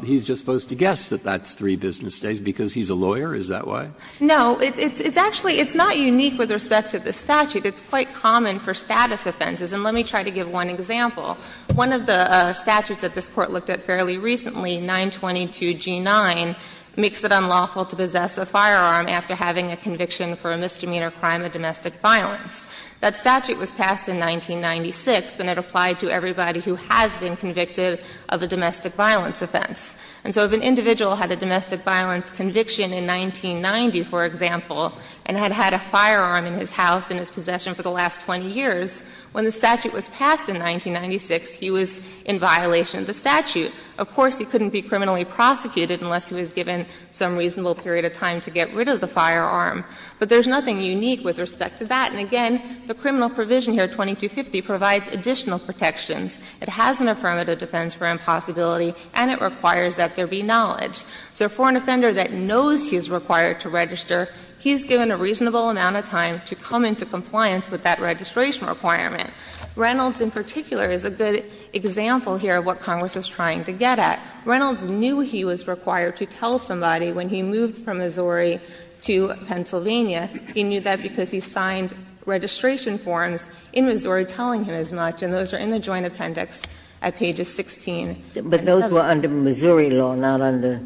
he's just supposed to guess that that's three business days because he's a lawyer? Is that why? No. It's actually — it's not unique with respect to the statute. It's quite common for status offenses. And let me try to give one example. One of the statutes that this Court looked at fairly recently, 922G9, makes it unlawful to possess a firearm after having a conviction for a misdemeanor crime of domestic violence. That statute was passed in 1996, and it applied to everybody who has been convicted of a domestic violence offense. And so if an individual had a domestic violence conviction in 1990, for example, and had had a firearm in his house, in his possession for the last 20 years, when the statute was passed in 1996, he was in violation of the statute. Of course, he couldn't be criminally prosecuted unless he was given some reasonable period of time to get rid of the firearm. But there's nothing unique with respect to that. And again, the criminal provision here, 2250, provides additional protections. It has an affirmative defense for impossibility, and it requires that there be knowledge. So for an offender that knows he's required to register, he's given a reasonable amount of time to come into compliance with that registration requirement. Reynolds in particular is a good example here of what Congress is trying to get at. Reynolds knew he was required to tell somebody when he moved from Missouri to Pennsylvania. He knew that because he signed registration forms in Missouri telling him as much, and those are in the Joint Appendix at pages 16 and 17. Ginsburg. But those were under Missouri law, not under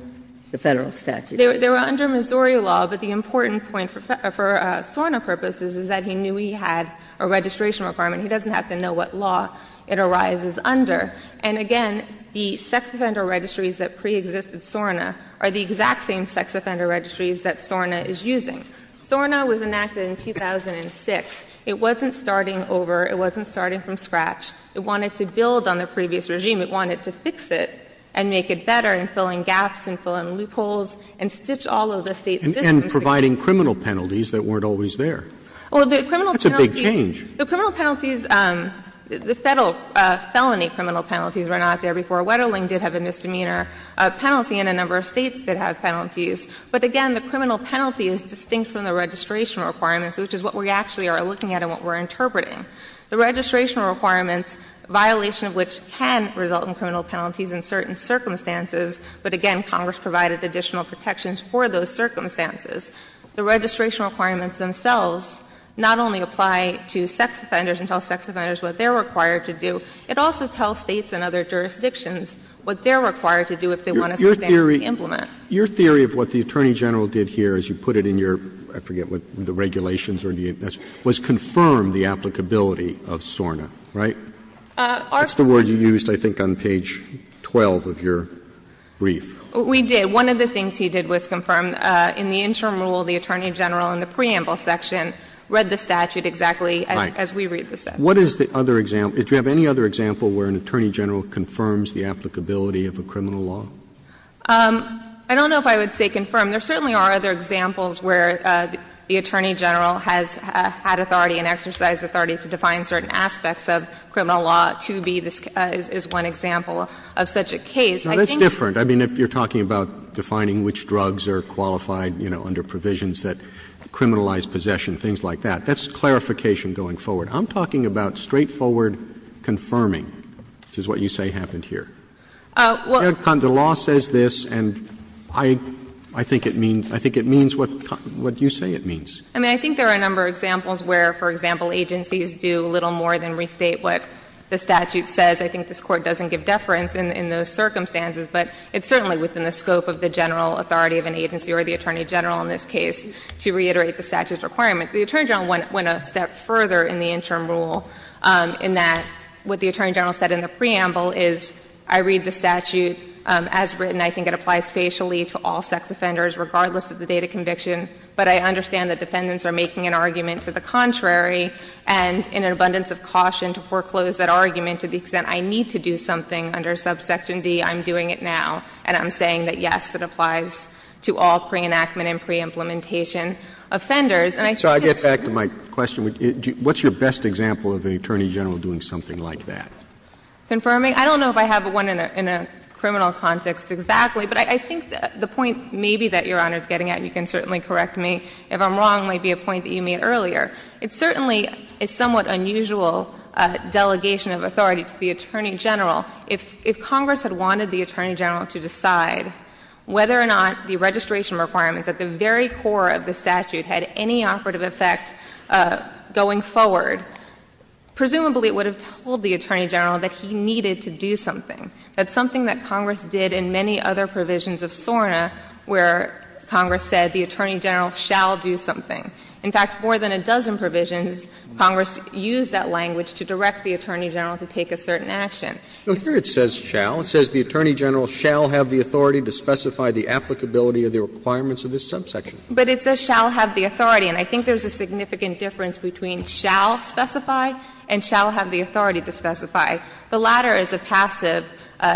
the Federal statute. They were under Missouri law, but the important point for SORNA purposes is that he knew he had a registration requirement. He doesn't have to know what law it arises under. And again, the sex offender registries that preexisted SORNA are the exact same sex offender registries that SORNA is using. SORNA was enacted in 2006. It wasn't starting over. It wasn't starting from scratch. It wanted to build on the previous regime. It wanted to fix it and make it better in filling gaps and filling loopholes and stitch all of the State's distances. Roberts. And providing criminal penalties that weren't always there. That's a big change. The criminal penalties, the Federal felony criminal penalties were not there before. Wetterling did have a misdemeanor penalty, and a number of States did have penalties. But again, the criminal penalty is distinct from the registration requirements, which is what we actually are looking at and what we're interpreting. The registration requirements, violation of which can result in criminal penalties in certain circumstances, but again, Congress provided additional protections for those circumstances, the registration requirements themselves not only apply to sex offenders and tell sex offenders what they're required to do, it also tells States and other jurisdictions what they're required to do if they want a standard to implement. Your theory of what the Attorney General did here, as you put it in your, I forget what, the regulations or the, was confirm the applicability of SORNA, right? That's the word you used, I think, on page 12 of your brief. We did. One of the things he did was confirm in the interim rule, the Attorney General in the preamble section, read the statute exactly as we read the statute. Roberts What is the other example, do you have any other example where an Attorney General confirms the applicability of a criminal law? I don't know if I would say confirm. There certainly are other examples where the Attorney General has had authority and exercised authority to define certain aspects of criminal law to be, is one example of such a case. I think that's different. I mean, if you're talking about defining which drugs are qualified, you know, under certain provisions that criminalize possession, things like that, that's clarification going forward. I'm talking about straightforward confirming, which is what you say happened here. The law says this, and I think it means, I think it means what you say it means. I mean, I think there are a number of examples where, for example, agencies do little more than restate what the statute says. I think this Court doesn't give deference in those circumstances, but it's certainly within the scope of the general authority of an agency or the Attorney General in this case to reiterate the statute's requirement. The Attorney General went a step further in the interim rule in that what the Attorney General said in the preamble is, I read the statute as written. I think it applies facially to all sex offenders regardless of the date of conviction, but I understand that defendants are making an argument to the contrary and in an abundance of caution to foreclose that argument to the extent I need to do something under subsection D, I'm doing it now, and I'm saying that, yes, it applies to all pre-enactment and pre-implementation offenders. And I think it's the same thing. So I get back to my question. What's your best example of an Attorney General doing something like that? Confirming? I don't know if I have one in a criminal context exactly, but I think the point maybe that Your Honor is getting at, and you can certainly correct me if I'm wrong, might be a point that you made earlier, it's certainly a somewhat unusual delegation of authority to the Attorney General. If Congress had wanted the Attorney General to decide whether or not the registration requirements at the very core of the statute had any operative effect going forward, presumably it would have told the Attorney General that he needed to do something. That's something that Congress did in many other provisions of SORNA where Congress said the Attorney General shall do something. In fact, more than a dozen provisions, Congress used that language to direct the Attorney General to take a certain action. But here it says shall. It says the Attorney General shall have the authority to specify the applicability of the requirements of this subsection. But it says shall have the authority, and I think there's a significant difference between shall specify and shall have the authority to specify. The latter is a passive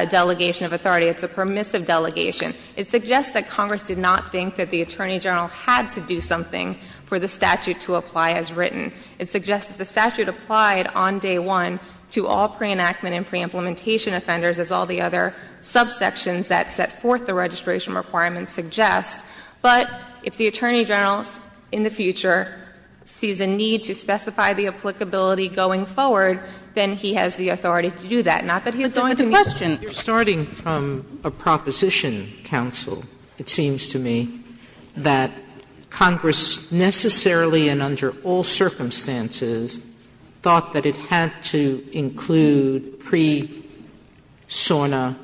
delegation of authority. It's a permissive delegation. It suggests that Congress did not think that the Attorney General had to do something for the statute to apply as written. It suggests that the statute applied on day one to all pre-enactment and pre-implementation offenders, as all the other subsections that set forth the registration requirements suggest. But if the Attorney General in the future sees a need to specify the applicability going forward, then he has the authority to do that, not that he's going to meet the requirement. Sotomayor You're starting from a proposition, counsel, it seems to me, that Congress necessarily and under all circumstances thought that it had to include pre-SORNA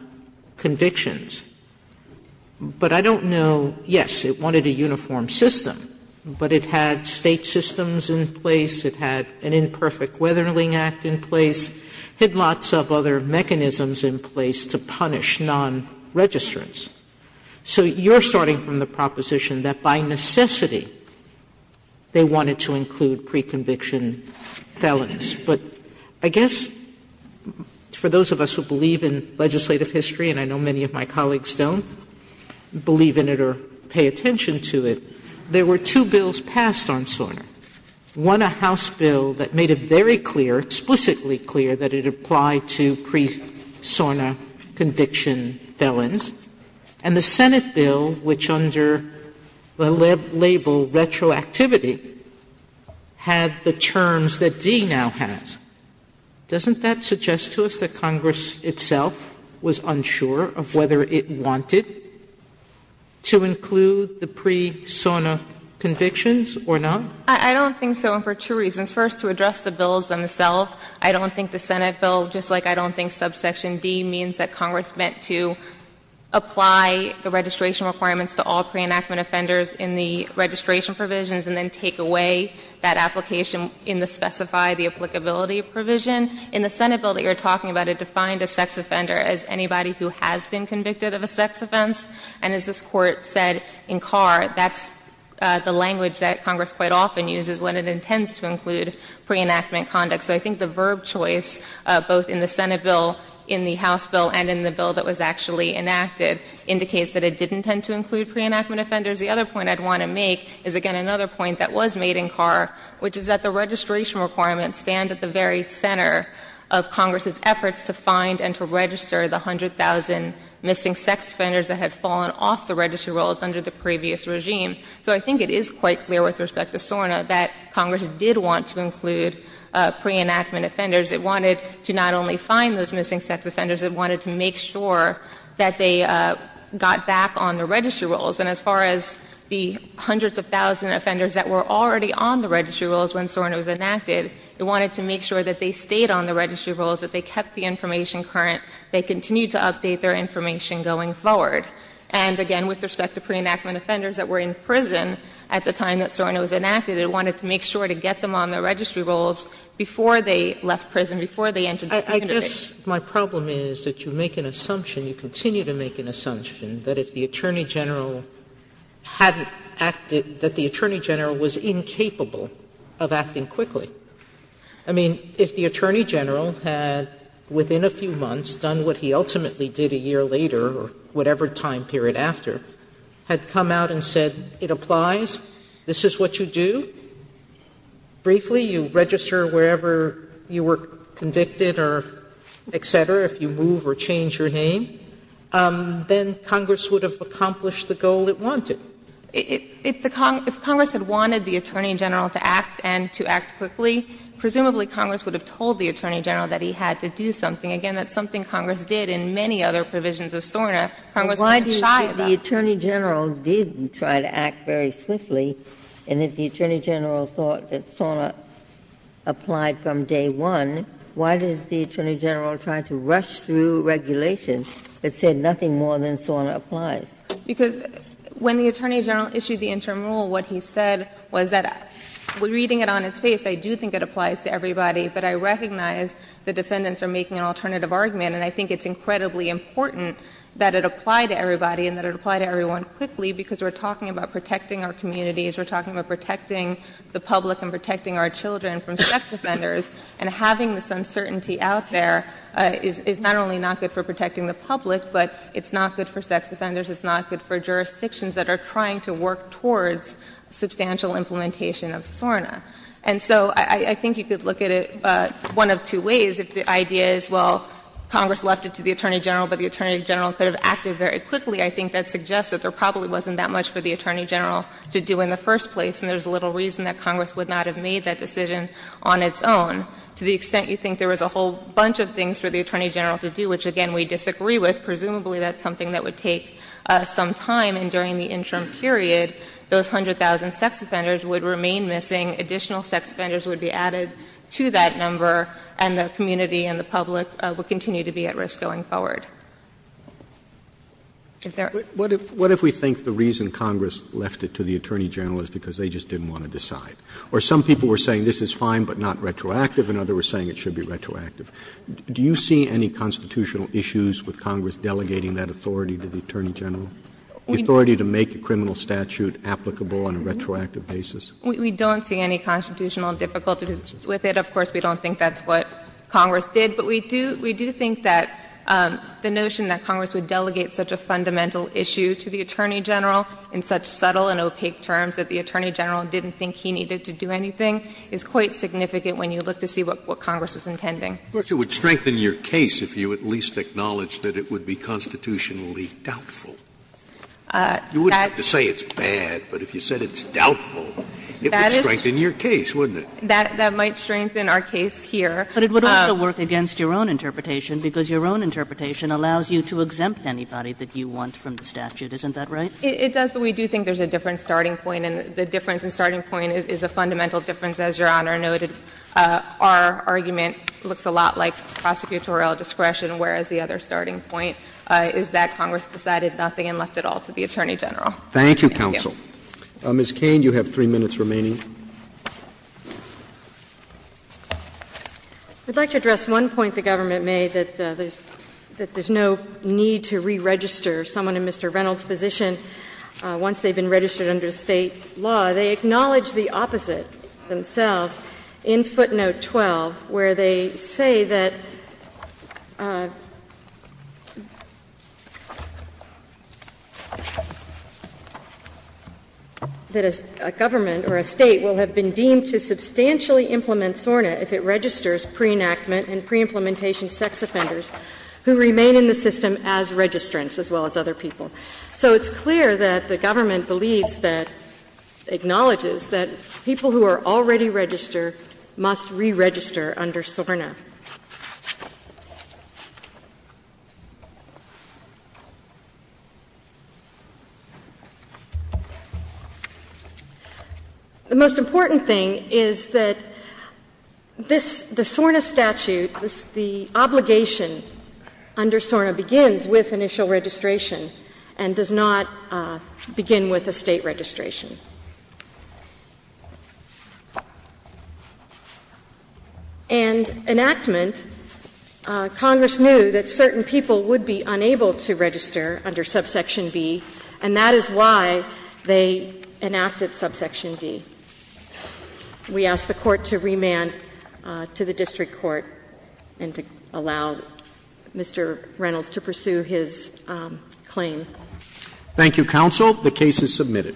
convictions. But I don't know – yes, it wanted a uniform system, but it had State systems in place, it had an Imperfect Weathering Act in place, it had lots of other mechanisms in place to punish non-registrants. So you're starting from the proposition that by necessity they wanted to include pre-conviction felons. But I guess for those of us who believe in legislative history, and I know many of my colleagues don't believe in it or pay attention to it, there were two bills passed on SORNA. One, a House bill that made it very clear, explicitly clear, that it applied to pre-SORNA conviction felons. And the Senate bill, which under the label retroactivity, had the terms that D now has. Doesn't that suggest to us that Congress itself was unsure of whether it wanted to include the pre-SORNA convictions or not? I don't think so, and for two reasons. First, to address the bills themselves. I don't think the Senate bill, just like I don't think subsection D means that Congress meant to apply the registration requirements to all pre-enactment offenders in the registration provisions, and then take away that application in the specify the applicability provision. In the Senate bill that you're talking about, it defined a sex offender as anybody who has been convicted of a sex offense. And as this Court said in Carr, that's the language that Congress quite often uses when it intends to include pre-enactment conduct. So I think the verb choice, both in the Senate bill, in the House bill, and in the bill that was actually enacted, indicates that it didn't intend to include pre-enactment offenders. The other point I'd want to make is, again, another point that was made in Carr, which is that the registration requirements stand at the very center of Congress's efforts to find and to register the 100,000 missing sex offenders that had fallen off the registry rolls under the previous regime. So I think it is quite clear with respect to SORNA that Congress did want to include pre-enactment offenders. It wanted to not only find those missing sex offenders, it wanted to make sure that they got back on the registry rolls. And as far as the hundreds of thousands of offenders that were already on the registry rolls when SORNA was enacted, it wanted to make sure that they stayed on the registry rolls, that they kept the information current, they continued to update their information going forward. And again, with respect to pre-enactment offenders that were in prison at the time that SORNA was enacted, it wanted to make sure to get them on the registry rolls before they left prison, before they entered the country. Sotomayor, I guess my problem is that you make an assumption, you continue to make an assumption, that if the Attorney General hadn't acted, that the Attorney General was incapable of acting quickly. I mean, if the Attorney General had, within a few months, done what he ultimately did a year later or whatever time period after, had come out and said, it applies, this is what you do, briefly, you register wherever you were convicted or et cetera, if you move or change your name, then Congress would have accomplished the goal it wanted. If the Congress had wanted the Attorney General to act and to act quickly, presumably Congress would have told the Attorney General that he had to do something. Again, that's something Congress did in many other provisions of SORNA. Congress was shy about it. But if the Attorney General didn't try to act very swiftly, and if the Attorney General thought that SORNA applied from day one, why did the Attorney General try to rush through regulations that said nothing more than SORNA applies? Because when the Attorney General issued the interim rule, what he said was that reading it on its face, I do think it applies to everybody, but I recognize the defendants are making an alternative argument, and I think it's incredibly important that it apply to everybody and that it apply to everyone quickly, because we're talking about protecting our communities, we're talking about protecting the public and protecting our children from sex offenders, and having this uncertainty out there is not only not good for protecting the public, but it's not good for sex offenders, it's not good for jurisdictions that are trying to work towards substantial implementation of SORNA. And so I think you could look at it one of two ways, if the idea is, well, Congress left it to the Attorney General, but the Attorney General could have acted very quickly, I think that suggests that there probably wasn't that much for the Attorney General to do in the first place, and there's little reason that Congress would not have made that decision on its own, to the extent you think there was a whole bunch of things for the Attorney General to do, which, again, we disagree with. Presumably, that's something that would take some time, and during the interim period, those 100,000 sex offenders would remain missing, additional sex offenders would be added to that number, and the community and the public would continue to be at risk going forward. If there are other questions? Roberts. Roberts. What if we think the reason Congress left it to the Attorney General is because they just didn't want to decide? Or some people were saying this is fine, but not retroactive, and others were saying it should be retroactive. Do you see any constitutional issues with Congress delegating that authority to the Attorney General? The authority to make a criminal statute applicable on a retroactive basis? We don't see any constitutional difficulties with it. Of course, we don't think that's what Congress did, but we do think that the notion that Congress would delegate such a fundamental issue to the Attorney General in such subtle and opaque terms that the Attorney General didn't think he needed to do anything is quite significant when you look to see what Congress was intending. Scalia. Of course, it would strengthen your case if you at least acknowledged that it would be constitutionally doubtful. You wouldn't have to say it's bad, but if you said it's doubtful, it would strengthen your case, wouldn't it? That might strengthen our case here. But it would also work against your own interpretation, because your own interpretation allows you to exempt anybody that you want from the statute. Isn't that right? It does, but we do think there's a different starting point, and the difference in starting point is a fundamental difference, as Your Honor noted. Our argument looks a lot like prosecutorial discretion, whereas the other starting point is that Congress decided nothing and left it all to the Attorney General. Thank you, counsel. Ms. Cain, you have three minutes remaining. I'd like to address one point the government made, that there's no need to re-register someone in Mr. Reynolds's position once they've been registered under State law. They acknowledge the opposite themselves in footnote 12, where they say that a government or a State will have been deemed to substantially implement SORNA if it registers pre-enactment and pre-implementation sex offenders who remain in the system as registrants, as well as other people. So it's clear that the government believes that, acknowledges that people who are already registered must re-register under SORNA. The most important thing is that the SORNA statute, the obligation under SORNA, begins with initial registration and does not begin with a State registration. And enactment, Congress knew that certain people would be unable to register under subsection B, and that is why they enacted subsection B. We ask the Court to remand to the district court and to allow Mr. Reynolds to pursue his claim. Thank you, counsel. The case is submitted.